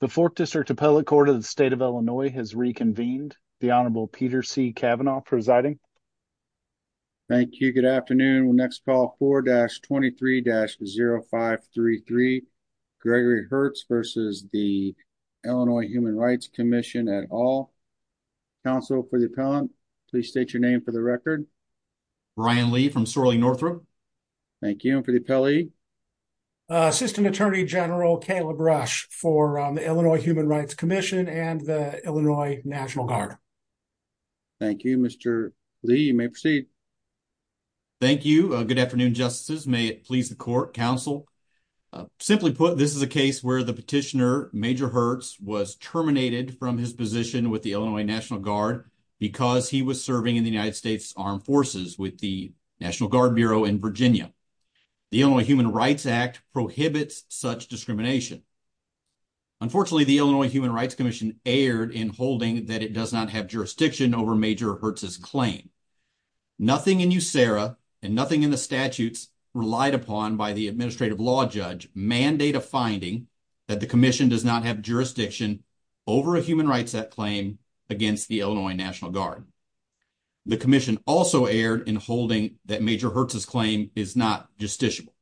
The Fourth District Appellate Court of the State of Illinois has reconvened. The Honorable Peter C. Kavanaugh presiding. Thank you. Good afternoon. We'll next call 4-23-0533 Gregory Hertz versus the Illinois Human Rights Commission et al. Counsel for the appellant, please state your name for the record. Brian Lee from Sorley Northrop. Thank you. And for the appellee? Assistant Attorney General Caleb Rush for the Illinois Human Rights Commission and the Illinois National Guard. Thank you. Mr. Lee, you may proceed. Thank you. Good afternoon, Justices. May it please the court, counsel. Simply put, this is a case where the petitioner, Major Hertz, was terminated from his position with the Illinois National Guard because he was serving in the United States Armed Forces with the National Guard Bureau in Virginia. The Illinois Human Rights Act prohibits such discrimination. Unfortunately, the Illinois Human Rights Commission erred in holding that it does not have jurisdiction over Major Hertz's claim. Nothing in USERRA and nothing in the statutes relied upon by the administrative law judge mandate a finding that the commission does not have jurisdiction over a human rights claim against the Illinois National Guard. The commission also erred in holding that Major Hertz's claim is not justiciable.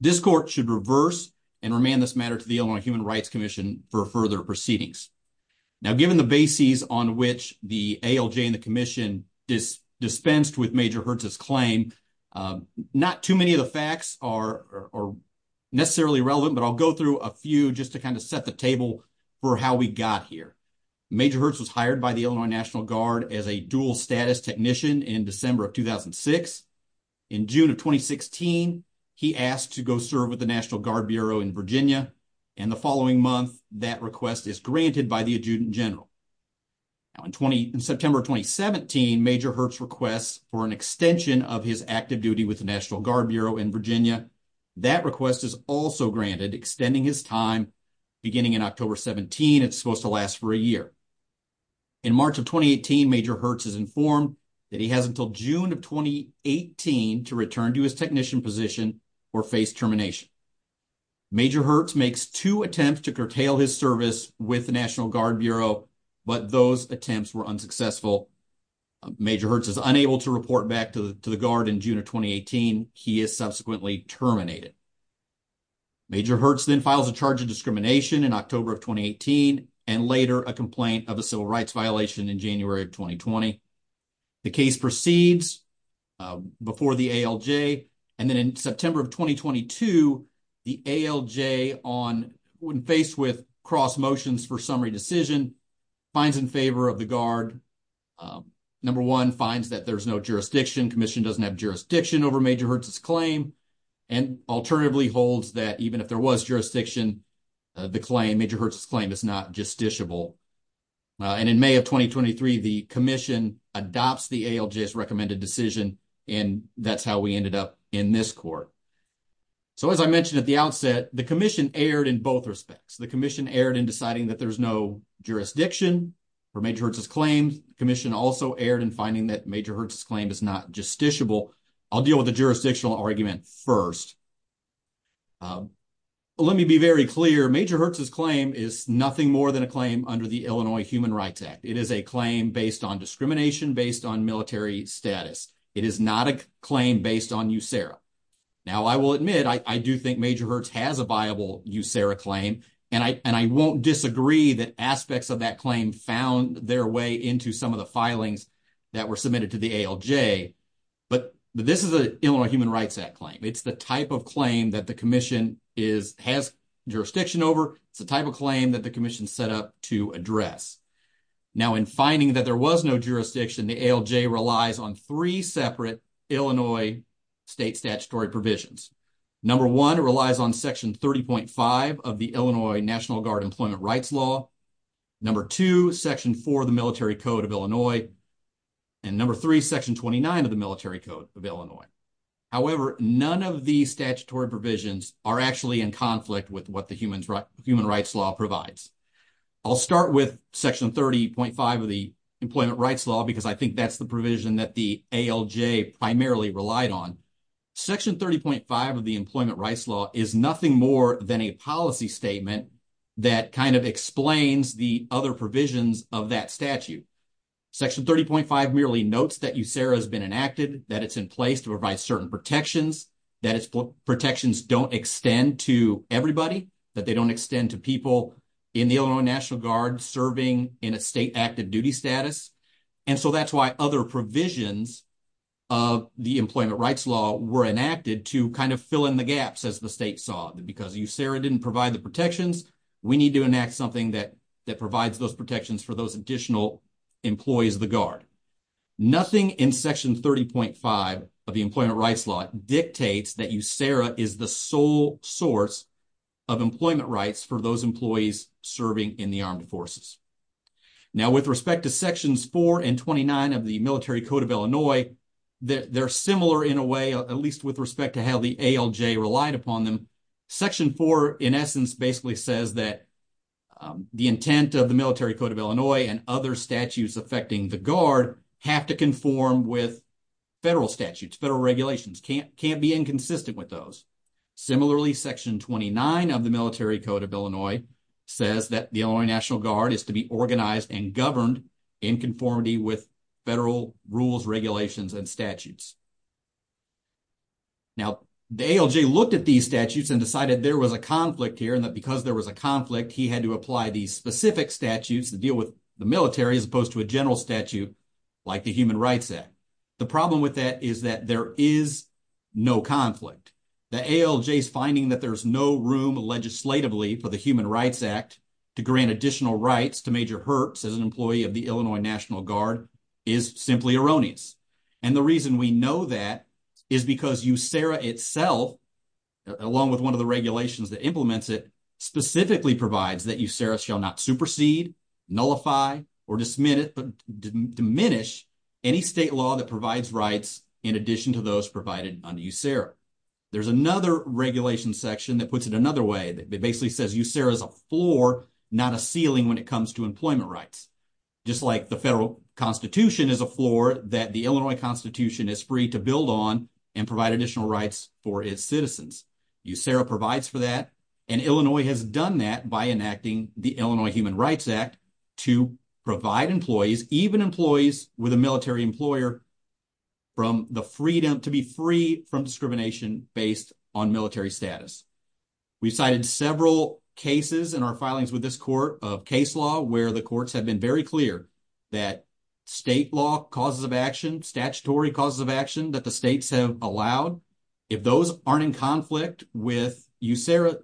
This court should reverse and remand this matter to the Illinois Human Rights Commission for further proceedings. Now, given the bases on which the ALJ and the commission dispensed with Major Hertz's claim, not too many of the facts are necessarily relevant, but I'll go through a few just to kind of set the table for how we got here. Major Hertz was hired by the Illinois National Guard as a dual-status technician in December of 2006. In June of 2016, he asked to go serve with the National Guard Bureau in Virginia, and the following month, that request is granted by the Adjutant General. In September of 2017, Major Hertz requests for an extension of his active duty with the National Guard Bureau in Virginia. That request is also granted, extending his time beginning in October 17. It's supposed to last for a year. In March of 2018, Major Hertz is informed that he has until June of 2018 to return to his technician position or face termination. Major Hertz makes two attempts to curtail his service with the National Guard Bureau, but those attempts were unsuccessful. Major Hertz is unable to report back to the Guard in June of 2018. He is subsequently terminated. Major Hertz then files a charge of discrimination in October of 2018 and later a complaint of a civil rights violation in January of 2020. The case proceeds before the ALJ. And then in September of 2022, the ALJ, when faced with cross motions for summary decision, finds in favor of the Guard. Number one, finds that there's no jurisdiction. Commission doesn't have jurisdiction over Major Hertz's claim. And alternatively holds that even if there was jurisdiction, the claim, Major Hertz's claim is not justiciable. And in May of 2023, the commission adopts the ALJ's recommended decision, and that's how we ended up in this court. So as I mentioned at the outset, the commission erred in both respects. The commission erred in deciding that there's no jurisdiction for Major Hertz's claim. The commission also erred in finding that Major Hertz's claim is not justiciable. I'll deal with the jurisdictional argument first. Let me be very clear. Major Hertz's claim is nothing more than a claim under the Illinois Human Rights Act. It is a claim based on discrimination, based on military status. It is not a claim based on USERRA. Now, I will admit, I do think Major Hertz has a viable USERRA claim, and I won't disagree that aspects of that claim found their way into some of the filings that were submitted to the ALJ. But this is an Illinois Human Rights Act claim. It's the type of claim that the commission has jurisdiction over. It's the type of claim that the commission set up to address. Now, in finding that there was no jurisdiction, the ALJ relies on three separate Illinois state statutory provisions. Number one, it relies on Section 30.5 of the Illinois National Guard Employment Rights Law. Number two, Section 4 of the Military Code of Illinois. And number three, Section 29 of the Military Code of Illinois. However, none of these statutory provisions are actually in conflict with what the Human Rights Law provides. I'll start with Section 30.5 of the Employment Rights Law because I think that's the provision that the ALJ primarily relied on. Section 30.5 of the Employment Rights Law is nothing more than a policy statement that kind of explains the other provisions of that statute. Section 30.5 merely notes that USERRA has been enacted, that it's in place to provide certain protections, that its protections don't extend to everybody, that they don't extend to people in the Illinois National Guard serving in a state active duty status. And so that's why other provisions of the Employment Rights Law were enacted to kind of fill in the gaps, as the state saw it, because USERRA didn't provide the protections. We need to enact something that provides those protections for those additional employees of the Guard. Nothing in Section 30.5 of the Employment Rights Law dictates that USERRA is the sole source of employment rights for those employees serving in the armed forces. Now, with respect to Sections 4 and 29 of the Military Code of Illinois, they're similar in a way, at least with respect to how the ALJ relied upon them. Section 4, in essence, basically says that the intent of the Military Code of Illinois and other statutes affecting the Guard have to conform with federal statutes, federal regulations, can't be inconsistent with those. Similarly, Section 29 of the Military Code of Illinois says that the Illinois National Guard is to be organized and governed in conformity with federal rules, regulations, and statutes. Now, the ALJ looked at these statutes and decided there was a conflict here and that because there was a conflict, he had to apply these specific statutes to deal with the military as opposed to a general statute like the Human Rights Act. The problem with that is that there is no conflict. The ALJ's finding that there's no room legislatively for the Human Rights Act to grant additional rights to Major Herbst as an employee of the Illinois National Guard is simply erroneous. And the reason we know that is because USERRA itself, along with one of the regulations that implements it, specifically provides that USERRA shall not supersede, nullify, or diminish any state law that provides rights in addition to those provided under USERRA. There's another regulation section that puts it another way. It basically says USERRA is a floor, not a ceiling when it comes to employment rights. Just like the federal constitution is a floor that the Illinois constitution is free to build on and provide additional rights for its citizens. USERRA provides for that, and Illinois has done that by enacting the Illinois Human Rights Act to provide employees, even employees with a military employer, to be free from discrimination based on military status. We've cited several cases in our filings with this court of case law where the courts have been very clear that state law causes of action, statutory causes of action that the states have allowed, if those aren't in conflict with USERRA,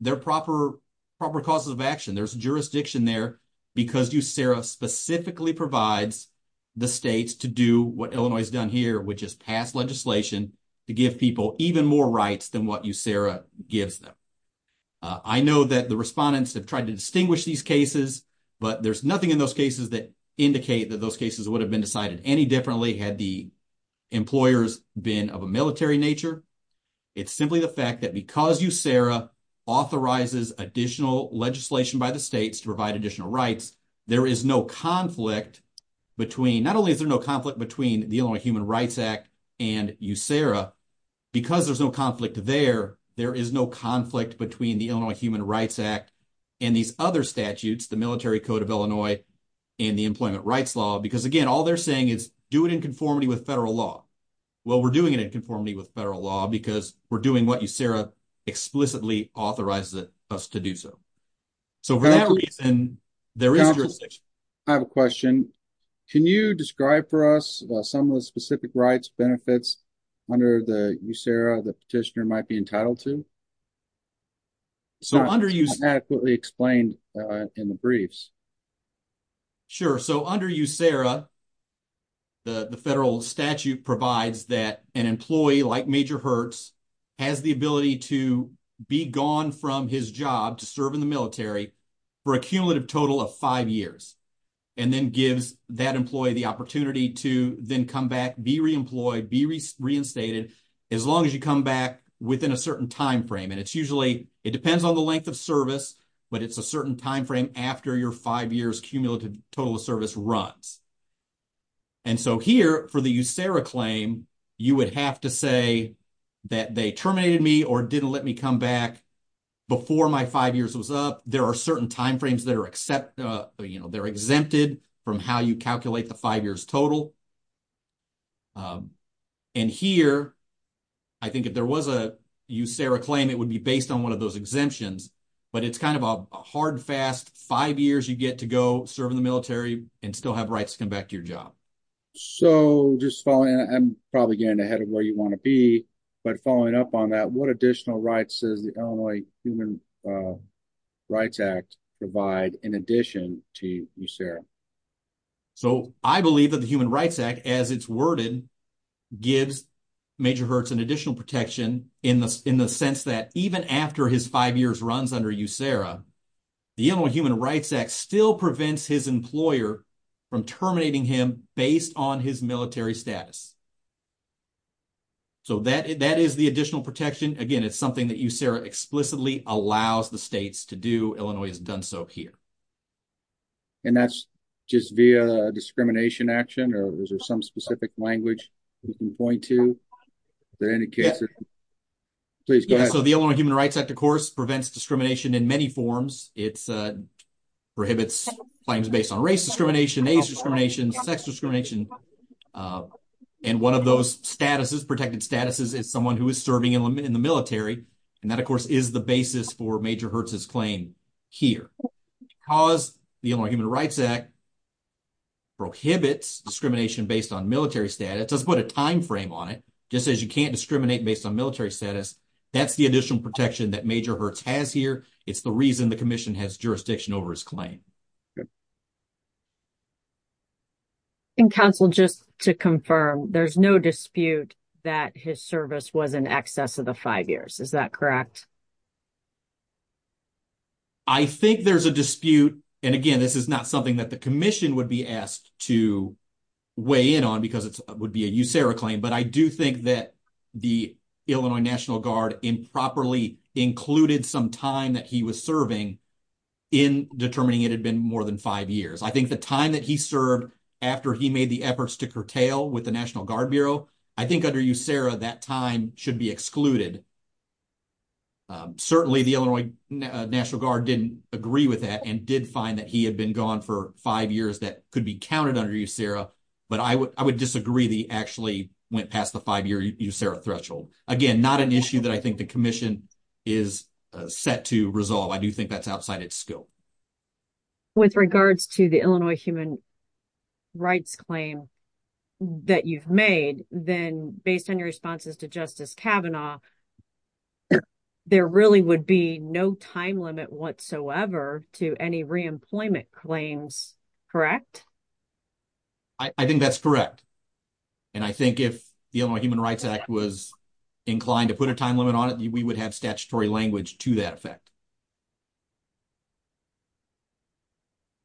they're proper causes of action. There's jurisdiction there because USERRA specifically provides the states to do what Illinois has done here, which is pass legislation to give people even more rights than what USERRA gives them. I know that the respondents have tried to distinguish these cases, but there's nothing in those cases that indicate that those cases would have been decided any differently had the employers been of a military nature. It's simply the fact that because USERRA authorizes additional legislation by the states to provide additional rights, there is no conflict between, not only is there no conflict between the Illinois Human Rights Act and USERRA, because there's no conflict there, there is no conflict between the Illinois Human Rights Act and these other statutes, the Military Code of Illinois and the Employment Rights Law, because again, all they're saying is do it in conformity with federal law. Well, we're doing it in conformity with federal law because we're doing what USERRA explicitly authorizes us to do so. So for that reason, there is jurisdiction. I have a question. Can you describe for us some of the specific rights benefits under USERRA that petitioner might be entitled to? So under USERRA, the federal statute provides that an employee like Major Hertz has the ability to be gone from his job to serve in the military for a cumulative total of five years and then gives that employee the opportunity to then come back, be reemployed, be reinstated as long as you come back within a certain time frame. And it's usually, it depends on the length of service, but it's a certain time frame after your five years cumulative total of service runs. And so here for the USERRA claim, you would have to say that they terminated me or didn't let me come back before my five years was up. There are certain time frames that are exempted from how you calculate the five years total. And here, I think if there was a USERRA claim, it would be based on one of those exemptions, but it's kind of a hard, fast five years you get to go serve in the military and still have rights to come back to your job. So just following, and I'm probably getting ahead of where you want to be, but following up on that, what additional rights does the Illinois Human Rights Act provide in addition to So I believe that the Human Rights Act, as it's worded, gives Major Hertz an additional protection in the sense that even after his five years runs under USERRA, the Illinois Human Rights Act still prevents his employer from terminating him based on his military status. So that is the additional protection. Again, it's something that USERRA explicitly allows the states to do. Illinois has done so here. And that's just via discrimination action or is there some specific language you can point to? So the Illinois Human Rights Act, of course, prevents discrimination in many forms. It prohibits claims based on race discrimination, age discrimination, sex discrimination. And one of those statuses, protected statuses, is someone who is serving in the military. And that, of course, is the basis for Major Hertz's claim here. Because the Illinois Human Rights Act prohibits discrimination based on military status, let's put a timeframe on it. Just says you can't discriminate based on military status. That's the additional protection that Major Hertz has here. It's the reason the commission has jurisdiction over his claim. And, Counsel, just to confirm, there's no dispute that his service was in excess of the five years. Is that correct? I think there's a dispute. And, again, this is not something that the commission would be asked to weigh in on because it would be a USERRA claim. But I do think that the Illinois National Guard improperly included some time that he was serving in determining it a discrimination. I don't think the Illinois National Guard should have been more than five years. I think the time that he served after he made the efforts to curtail with the National Guard Bureau, I think under USERRA, that time should be excluded. Certainly the Illinois National Guard didn't agree with that and did find that he had been gone for five years that could be counted under USERRA. But I would disagree that he actually went past the five-year USERRA threshold. Again, not an issue that I think the commission is set to resolve. I do think that's outside its scope. With regards to the Illinois Human Rights claim that you've made, then based on your responses to Justice Kavanaugh, there really would be no time limit whatsoever to any reemployment claims. Correct? I think that's correct. And I think if the Illinois Human Rights Act was inclined to put a time limit on it, we would have statutory language to that effect.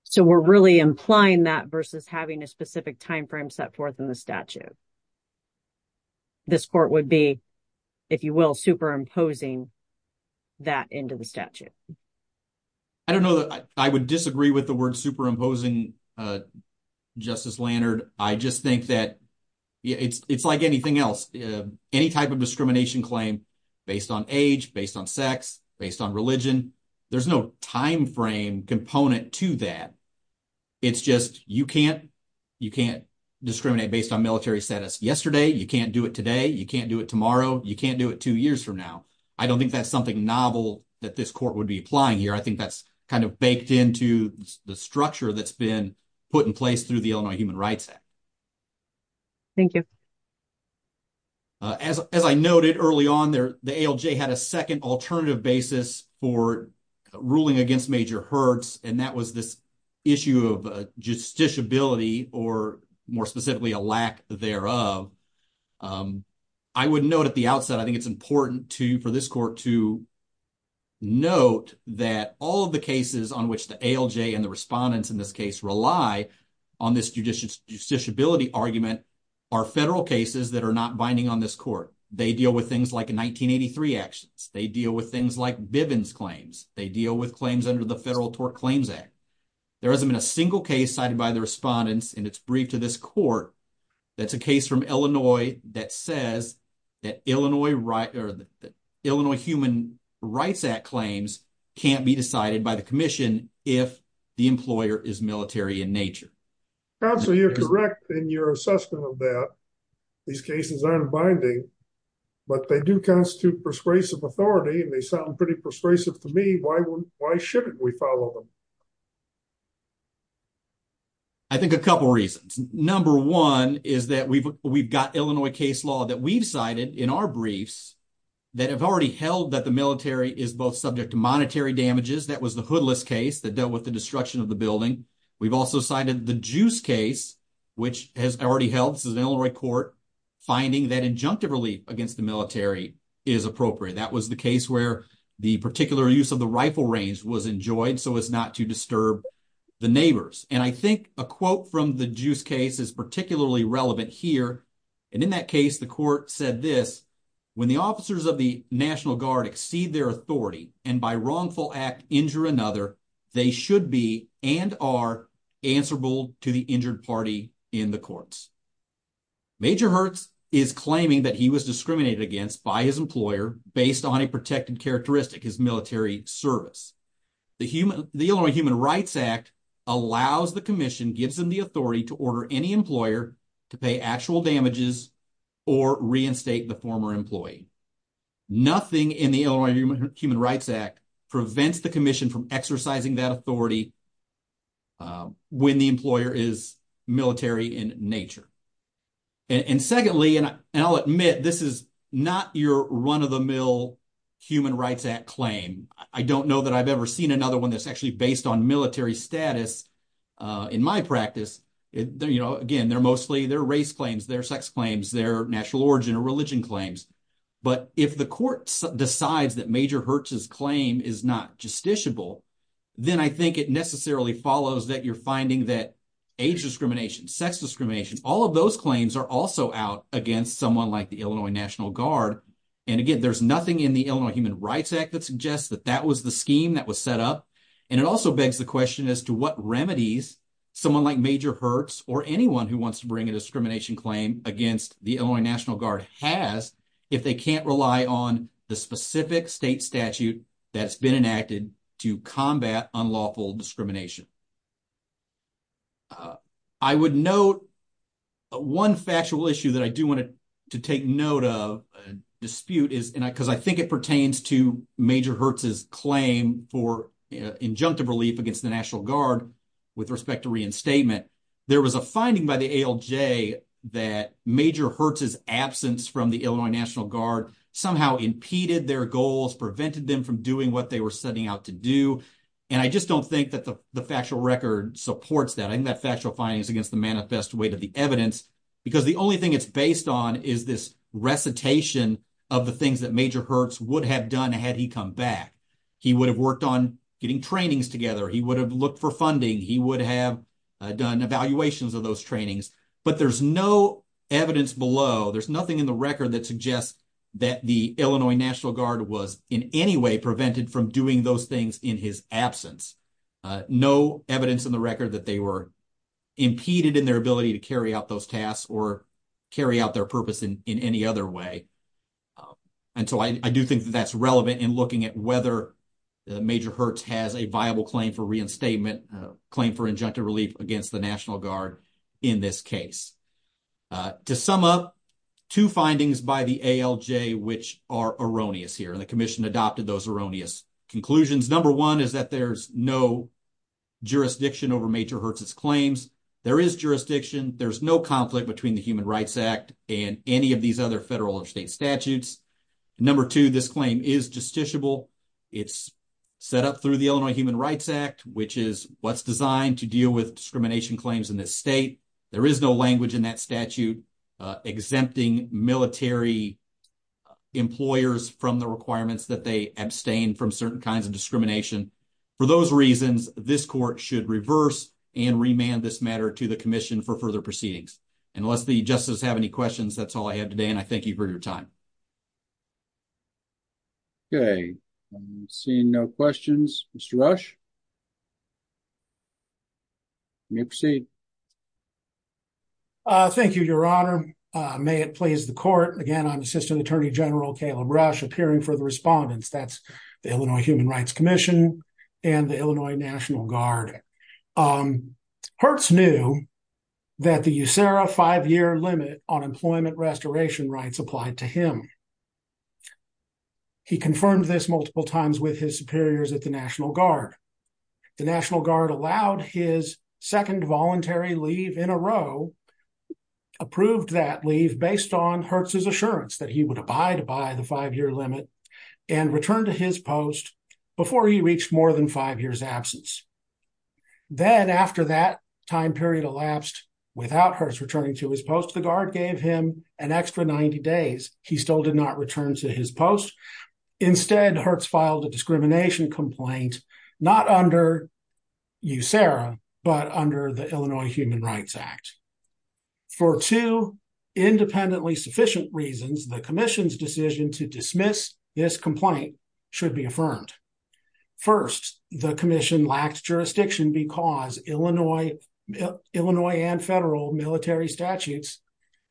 So we're really implying that versus having a specific timeframe set forth in the statute. This court would be, if you will, superimposing that into the statute. I don't know. I would disagree with the word superimposing, Justice Lannard. I just think that it's like anything else. Any type of discrimination claim based on age, based on sex, based on religion, there's no timeframe component to that. It's just you can't discriminate based on military status yesterday, you can't do it today, you can't do it tomorrow, you can't do it two years from now. I don't think that's something novel that this court would be applying here. I think that's kind of baked into the structure that's been put in place through the Illinois Human Rights Act. Thank you. As I noted early on, the ALJ had a second alternative basis for ruling against major hurts, and that was this issue of justiciability, or more specifically a lack thereof. I would note at the outset, I think it's important for this court to note that all of the cases on which the ALJ and the respondents in this case rely on this justiciability argument are federal cases that are not binding on this court. They deal with things like 1983 actions. They deal with things like Bivens claims. They deal with claims under the Federal Tort Claims Act. There hasn't been a single case cited by the respondents in its brief to this court that's a case from Illinois that says that Illinois Human Rights Act claims can't be decided by the commission if the employer is military in nature. Counsel, you're correct in your assessment of that. These cases aren't binding, but they do constitute persuasive authority, and they sound pretty persuasive to me. Why shouldn't we follow them? I think a couple reasons. Number one is that we've got Illinois case law that we've cited in our briefs that have already held that the military is both subject to monetary damages. That was the Hoodless case that dealt with the destruction of the building. We've also cited the Juice case, which has already held, this is an Illinois court, finding that injunctive relief against the military is appropriate. That was the case where the particular use of the rifle range was enjoyed so as not to disturb the neighbors. And I think a quote from the Juice case is particularly relevant here, and in that case the court said this, when the officers of the National Guard exceed their authority and by wrongful act injure another, they should be and are answerable to the injured party in the courts. Major Hertz is claiming that he was discriminated against by his employer based on a protected characteristic, his military service. The Illinois Human Rights Act allows the commission, gives them the authority to order any employer to pay actual damages or reinstate the former employee. Nothing in the Illinois Human Rights Act prevents the commission from exercising that authority when the employer is military in nature. And secondly, and I'll admit, this is not your run-of-the-mill Human Rights Act claim. I don't know that I've ever seen another one that's actually based on military status in my practice. Again, they're mostly their race claims, their sex claims, their national origin or religion claims. But if the court decides that Major Hertz's claim is not justiciable, then I think it necessarily follows that you're finding that age discrimination, sex discrimination, all of those claims are also out against someone like the Illinois National Guard. And again, there's nothing in the Illinois Human Rights Act that suggests that that was the scheme that was set up. And it also begs the question as to what remedies someone like Major Hertz or anyone who wants to bring a discrimination claim against the Illinois National Guard has, if they can't rely on the specific state statute that's been enacted to combat unlawful discrimination. I would note one factual issue that I do want to take note of, a dispute is, because I think it pertains to Major Hertz's claim for injunctive relief against the National Guard with respect to reinstatement. There was a finding by the ALJ that Major Hertz's absence from the Illinois National Guard somehow impeded their goals, prevented them from doing what they were setting out to do. And I just don't think that the factual record supports that. I think that factual findings against the manifest weight of the evidence, because the only thing it's based on is this recitation of the things that Major Hertz would have done had he come back. He would have worked on getting trainings together. He would have looked for funding. He would have done evaluations of those trainings, but there's no evidence below. There's nothing in the record that suggests that the Illinois National Guard was in any way prevented from doing those things in his absence. No evidence in the record that they were impeded in their ability to carry out those tasks or carry out their purpose in any other way. And so I do think that that's relevant in looking at whether Major Hertz has a claim for injunctive relief against the National Guard in this case. To sum up, two findings by the ALJ which are erroneous here, and the commission adopted those erroneous conclusions. Number one is that there's no jurisdiction over Major Hertz's claims. There is jurisdiction. There's no conflict between the Human Rights Act and any of these other federal or state statutes. Number two, this claim is justiciable. It's set up through the Illinois Human Rights Act, which is what's designed to deal with discrimination claims in this state. There is no language in that statute exempting military employers from the requirements that they abstain from certain kinds of discrimination. For those reasons, this court should reverse and remand this matter to the commission for further proceedings. Unless the justices have any questions, that's all I have today. And I thank you for your time. Okay, I'm seeing no questions. Mr. Rush, you may proceed. Thank you, Your Honor. May it please the court. Again, I'm Assistant Attorney General Caleb Rush, appearing for the respondents. That's the Illinois Human Rights Commission and the Illinois National Guard. Hertz knew that the USERRA five-year limit on employment restoration rights applied to him. He confirmed this multiple times with his superiors at the National Guard. The National Guard allowed his second voluntary leave in a row, approved that leave based on Hertz's assurance that he would abide by the five-year limit and return to his post before he reached more than five years absence. Then after that time period elapsed without Hertz returning to his post, the Guard gave him an extra 90 days. He still did not return to his post. Instead, Hertz filed a discrimination complaint, not under USERRA, but under the Illinois Human Rights Act. For two independently sufficient reasons, the commission's decision to dismiss this complaint should be affirmed. First, the commission lacked jurisdiction because Illinois and federal military statutes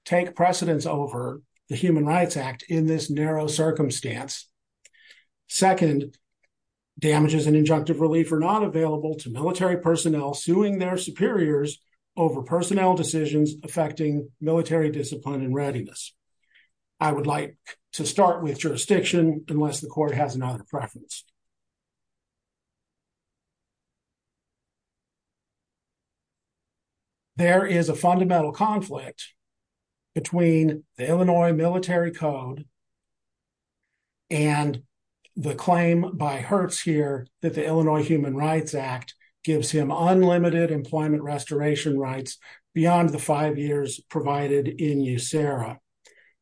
take precedence over the Human Rights Act in this narrow circumstance. damages and injunctive relief are not available to military personnel suing their superiors over personnel decisions affecting military discipline and I would like to start with jurisdiction unless the court has another preference. There is a fundamental conflict between the Illinois Military Code and the claim by Hertz here that the Illinois Human Rights Act gives him unlimited employment restoration rights beyond the five years provided in USERRA.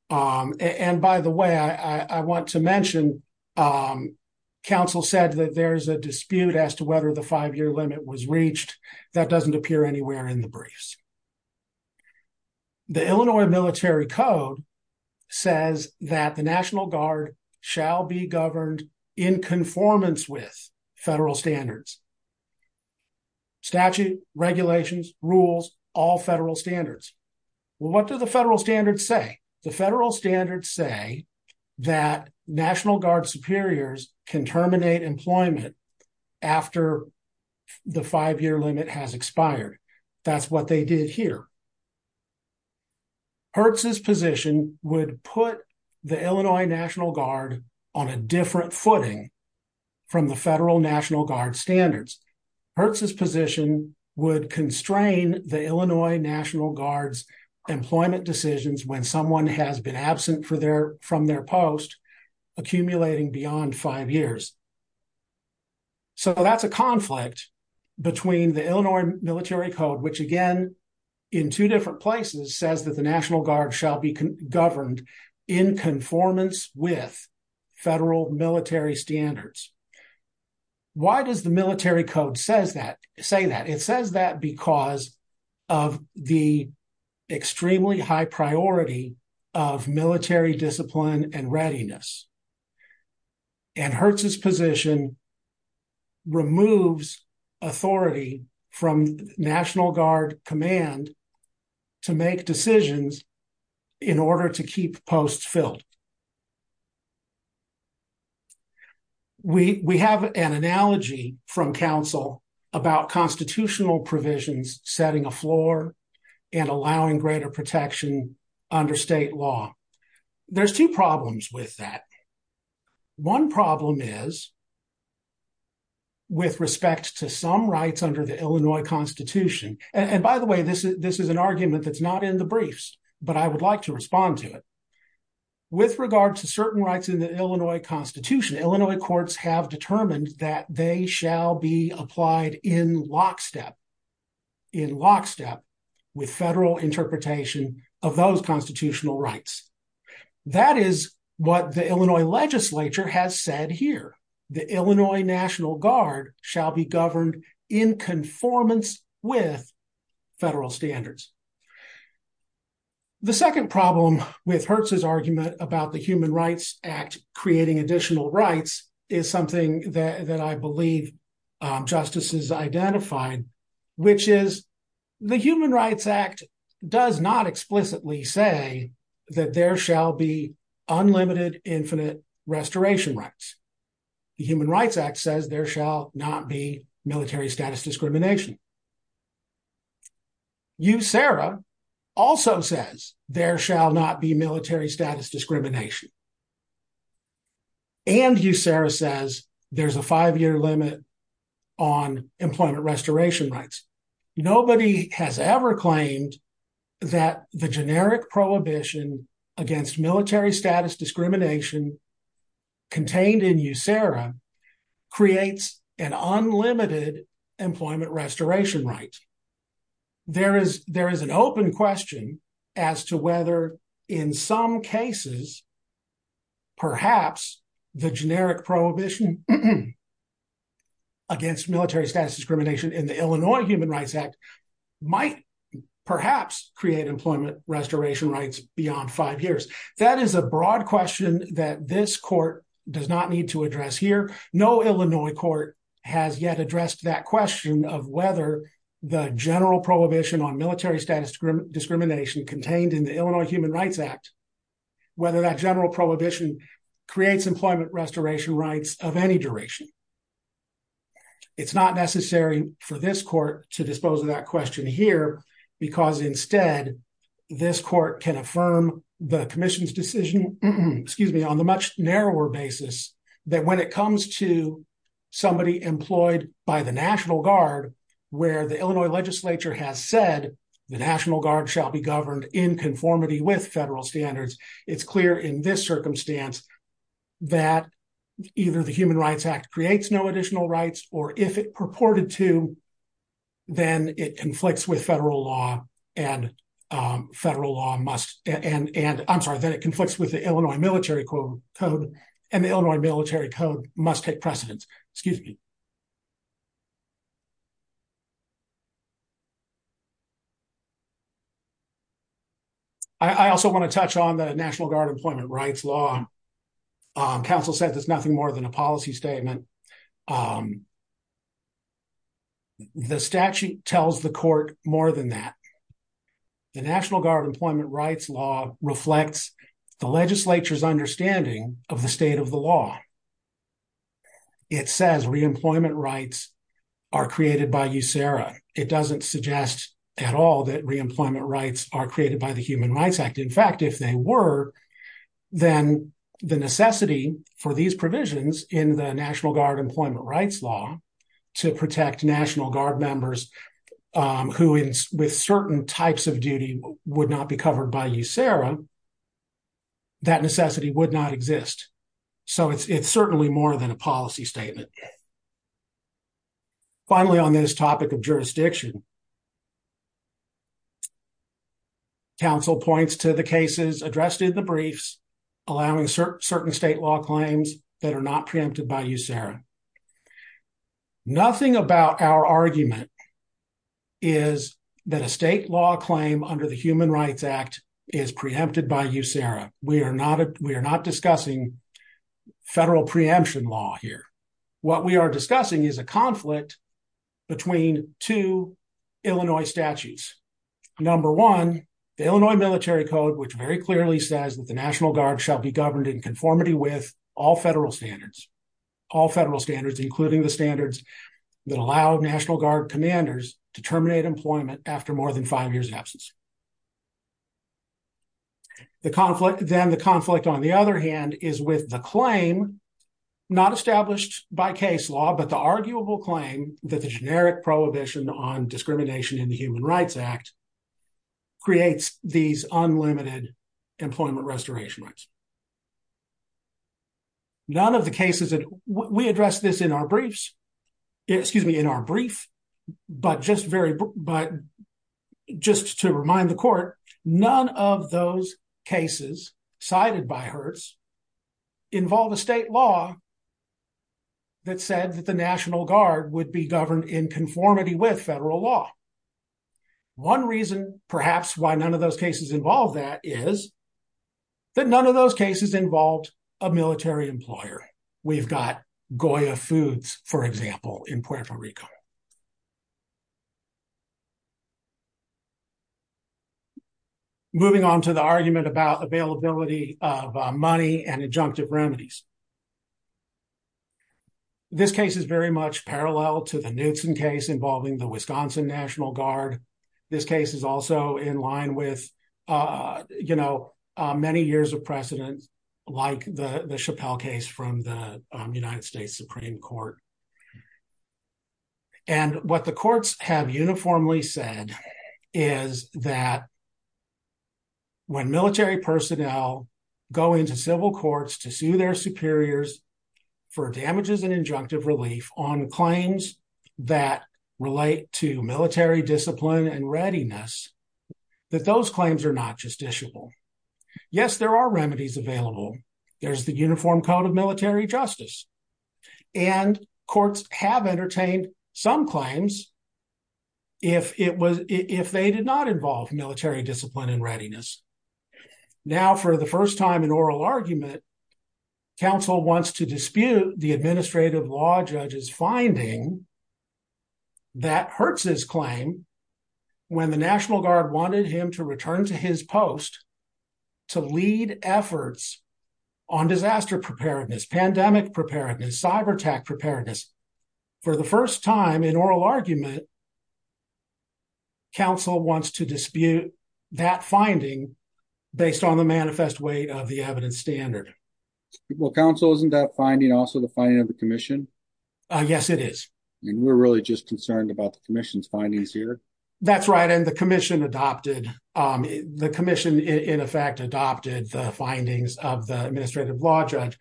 And by the way, I want to mention, counsel said that there's a dispute as to whether the five year limit was reached. That doesn't appear anywhere in the briefs. The Illinois Military Code says that the National Guard shall be governed in conformance with federal standards, statute, regulations, rules, all federal standards. Well, what do the federal standards say? The federal standards say that National Guard superiors can terminate employment after the five year limit has expired. That's what they did here. Hertz's position would put the Illinois National Guard on a different footing from the federal National Guard standards. Hertz's position would constrain the Illinois National Guard's employment decisions when someone has been absent from their post accumulating beyond five years. So that's a conflict between the Illinois Military Code, which again, in two different places, says that the National Guard shall be governed in conformance with federal military standards. Why does the Military Code say that? It says that because of the extremely high priority of military discipline and readiness. And Hertz's position removes authority from National Guard command to make decisions in order to keep posts filled. We have an analogy from council about constitutional provisions setting a floor and allowing greater protection under state law. There's two problems with that. One problem is with respect to some rights under the Illinois Constitution, and by the way, this is an argument that's not in the briefs, but I would like to respond to it. With regard to certain rights in the Illinois Constitution, Illinois courts have determined that they shall be applied in lockstep, in lockstep with federal interpretation of those constitutional rights. That is what the Illinois legislature has said here. The Illinois National Guard shall be governed in conformance with federal standards. The second problem with Hertz's argument about the Human Rights Act creating additional rights is something that I believe justices identified, which is the Human Rights Act does not explicitly say that there shall be unlimited infinite restoration rights. The Human Rights Act says there shall not be military status discrimination. USERRA also says there shall not be military status discrimination, and USERRA says there's a five-year limit on employment restoration rights. Nobody has ever claimed that the generic prohibition against military status discrimination contained in USERRA creates an unlimited employment restoration right. There is an open question as to whether in some cases, perhaps the generic prohibition against military status discrimination in the Illinois Human Rights Act might perhaps create employment restoration rights beyond five years. That is a broad question that this court does not need to address here. No Illinois court has yet addressed that question of whether the general prohibition on military status discrimination contained in the Illinois Human Rights Act, whether that general prohibition creates employment restoration rights of any duration. It's not necessary for this court to dispose of that question here because instead this court can affirm the commission's decision, excuse me, on the much narrower basis that when it comes to somebody employed by the National Guard, where the Illinois legislature has said the National Guard shall be governed in conformity with federal standards, it's clear in this circumstance that either the Human Rights Act creates no additional rights, or if it purported to then it conflicts with federal law and federal law must, and I'm sorry, then it conflicts with the Illinois military code and the Illinois military code must take precedence. Excuse me. I also want to touch on the National Guard employment rights law. Counsel said there's nothing more than a policy statement. The statute tells the court more than that. The National Guard employment rights law reflects the legislature's understanding of the state of the law. It says reemployment rights are created by USERRA. It doesn't suggest at all that reemployment rights are created by the Human Rights Act. In fact, if they were then the necessity for these provisions in the National Guard employment rights law to protect National Guard members who with certain types of duty would not be covered by USERRA, that necessity would not exist. So it's certainly more than a policy statement. Finally, on this topic of jurisdiction, counsel points to the cases addressed in the briefs, allowing certain state law claims that are not preempted by USERRA. Nothing about our argument is that a state law claim under the Human Rights Act is preempted by USERRA. We are not discussing federal preemption law here. What we are discussing is a conflict between two Illinois statutes. Number one, the Illinois military code, which very clearly says that the National Guard shall be governed in conformity with all federal standards, all federal standards, including the standards that allow National Guard commanders to terminate employment after more than five years absence. The conflict, then the conflict on the other hand, is with the claim not established by case law, but the arguable claim that the generic prohibition on discrimination in the Human Rights Act creates these unlimited employment restoration rights. None of the cases that we address this in our briefs, excuse me, in our brief, but just to remind the court, none of those cases cited by hers involve a state law that said that the National Guard would be governed in conformity with federal law. One reason perhaps why none of those cases involve that is that none of those cases involved a military employer. We've got Goya Foods, for example, in Puerto Rico. Moving on to the argument about availability of money and adjunctive remedies. This case is very much parallel to the Knudsen case involving the Wisconsin National Guard. This case is also in line with many years of precedent, like the Chappelle case from the United States Supreme Court. And what the courts have uniformly said is that when military personnel go into civil courts to sue their superiors for damages and injunctive relief on claims that relate to military discipline and readiness, that those claims are not justiciable. Yes, there are remedies available. There's the Uniform Code of Military Justice. And courts have entertained some claims if they did not involve military discipline and readiness. Now, for the first time in oral argument, counsel wants to dispute the administrative law judge's finding that hurts his claim when the National Guard wanted him to return to his post to lead efforts on disaster preparedness, pandemic preparedness, cyber attack preparedness. For the first time in oral argument, counsel wants to dispute that finding based on the manifest weight of the evidence standard. Well, counsel, isn't that finding also the finding of the commission? Yes, it is. And we're really just concerned about the commission's findings here. That's right. And the commission adopted, the commission in effect adopted the findings of the administrative law judge.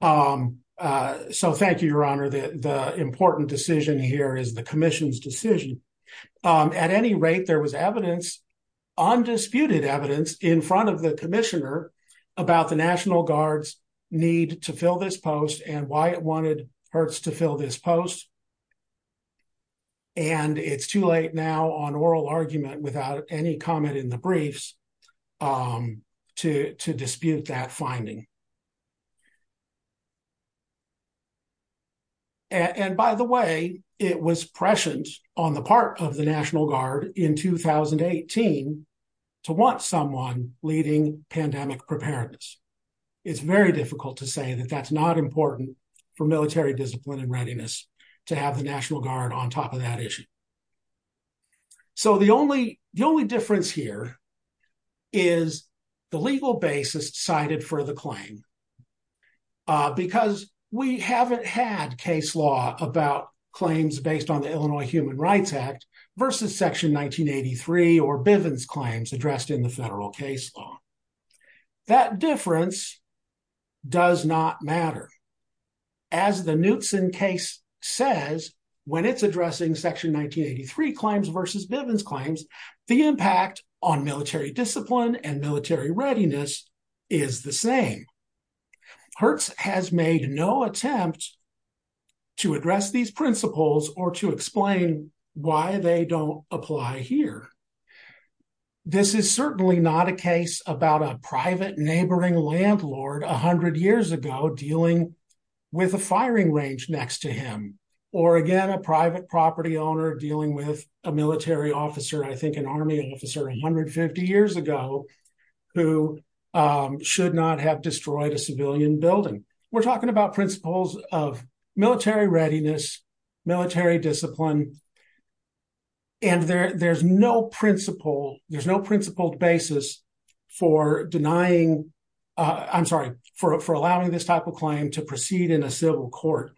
So thank you, Your Honor. The important decision here is the commission's decision. At any rate, there was evidence, undisputed evidence in front of the commissioner about the National Guard's need to fill this post and why it wanted Hertz to fill this post. And it's too late now on oral argument without any comment in the briefs to dispute that finding. And by the way, it was prescient on the part of the National Guard in 2018 to want someone leading pandemic preparedness. It's very difficult to say that that's not important for military discipline and readiness to have the National Guard on top of that issue. So the only, the only difference here is the legal basis cited for the claim because we haven't had case law about claims based on the Illinois Human Services Claims addressed in the federal case law. That difference does not matter. As the Knutson case says, when it's addressing section 1983 claims versus Bivens claims, the impact on military discipline and military readiness is the same. Hertz has made no attempt to address these principles or to explain why they don't apply here. This is certainly not a case about a private neighboring landlord, a hundred years ago, dealing with a firing range next to him, or again, a private property owner dealing with a military officer, I think an army officer, 150 years ago who should not have destroyed a civilian building. We're talking about principles of military readiness, military discipline, and there there's no principle. There's no principled basis for denying, I'm sorry, for allowing this type of claim to proceed in a civil court.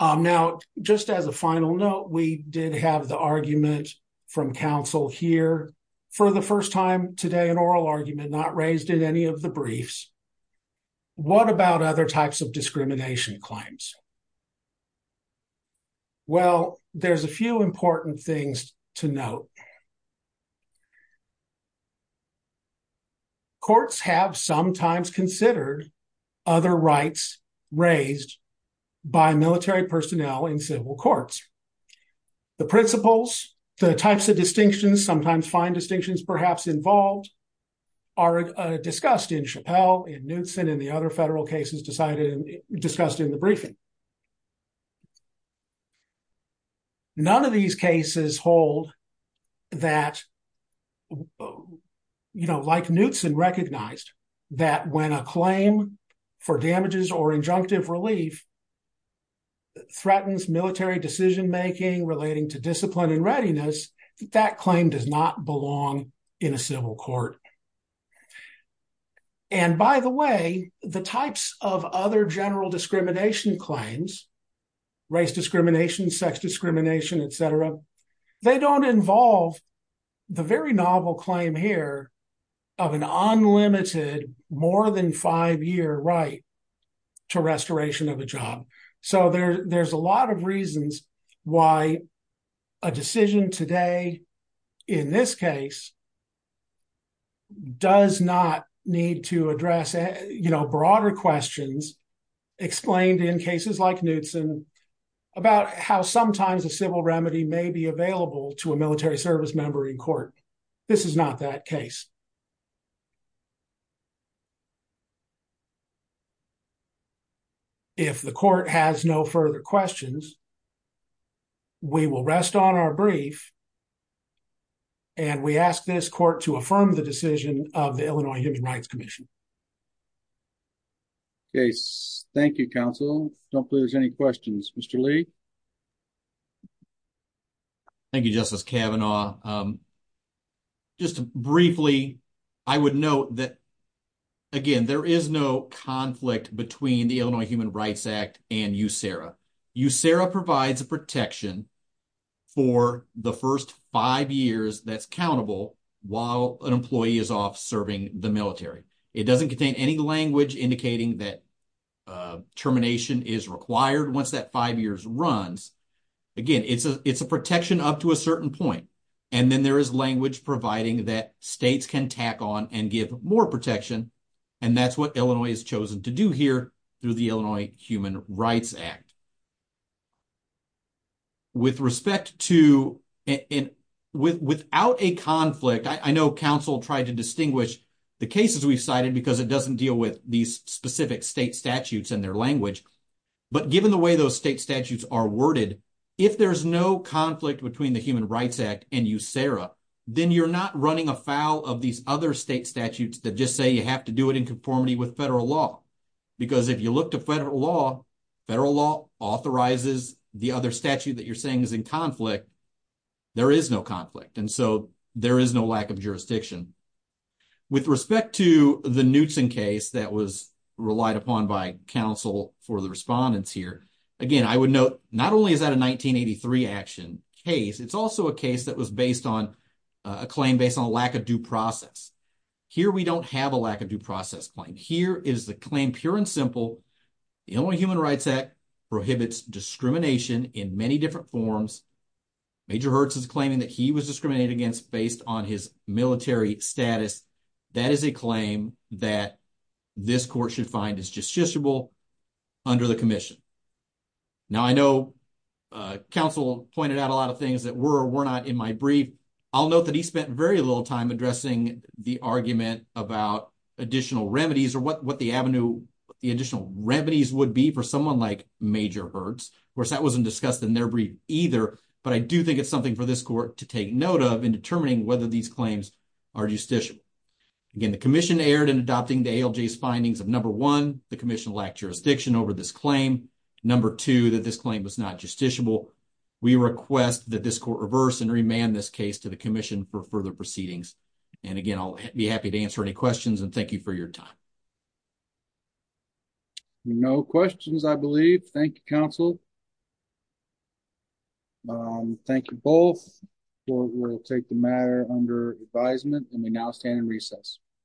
Now, just as a final note, we did have the argument from counsel here for the first time today, an oral argument not raised in any of the briefs. What about other types of discrimination claims? Well, there's a few important things to note. Courts have sometimes considered other rights raised by military personnel in civil courts. The principles, the types of distinctions, sometimes fine distinctions perhaps involved are discussed in Chappelle, in Knutson, in the other federal cases decided and discussed in the briefing. None of these cases hold that, you know, like Knutson recognized, that when a claim for damages or injunctive relief threatens military decision-making relating to discipline and readiness, that claim does not belong in a civil court. And by the way, the types of other general discrimination claims, race discrimination, sex discrimination, et cetera, they don't involve the very novel claim here of an unlimited more than five year right to restoration of a job. So there's a lot of reasons why a decision today in this case does not need to address, you know, broader questions explained in cases like Knutson about how sometimes a civil remedy may be available to a military service member in court. This is not that case. If the court has no further questions, we will rest on our brief and we ask this court to affirm the decision of the Illinois Human Rights Commission. Okay. Thank you, counsel. Don't believe there's any questions. Mr. Lee. Thank you, Justice Kavanaugh. Just briefly, I would note that, again, there is no conflict between the Illinois Human Rights Act and USERRA. USERRA provides a protection for the first five years that's countable while an employee is off serving the military. It doesn't contain any language indicating that termination is required once that five years runs. Again, it's a protection up to a certain point. And then there is language providing that states can tack on and give more protection. And that's what Illinois has chosen to do here through the Illinois Human Rights Act. With respect to and without a conflict, I know counsel tried to distinguish the cases we've cited because it doesn't deal with these specific state statutes and their language. But given the way those state statutes are worded, if there's no conflict between the Human Rights Act and USERRA, then you're not running afoul of these other state statutes that just say you have to do it in conformity with federal law. Because if you look to federal law, federal law authorizes the other statute that you're saying is in conflict. There is no conflict. And so there is no lack of jurisdiction. With respect to the Knutson case that was relied upon by counsel for the respondents here, again, I would note, not only is that a 1983 action case, it's also a case that was based on a claim based on a lack of due process. Here, we don't have a lack of due process claim. Here is the claim, pure and simple. The Illinois Human Rights Act prohibits discrimination in many different forms. Major Hertz is claiming that he was discriminated against based on his military status. That is a claim that this court should find is justiciable under the commission. Now, I know counsel pointed out a lot of things that were or were not in my brief. I'll note that he spent very little time addressing the argument about additional remedies or what the avenue, the additional remedies would be for someone like Major Hertz. Of course, that wasn't discussed in their brief either, but I do think it's something for this court to take note of in determining whether these claims are justiciable. Again, the commission erred in adopting the ALJ's findings of number one, the commission lacked jurisdiction over this claim. Number two, that this claim was not justiciable. We request that this court reverse and remand this case to the commission for further proceedings. Again, I'll be happy to answer any questions and thank you for your time. No questions, I believe. Thank you, counsel. Thank you both. We'll take the matter under advisement and we now stand in recess.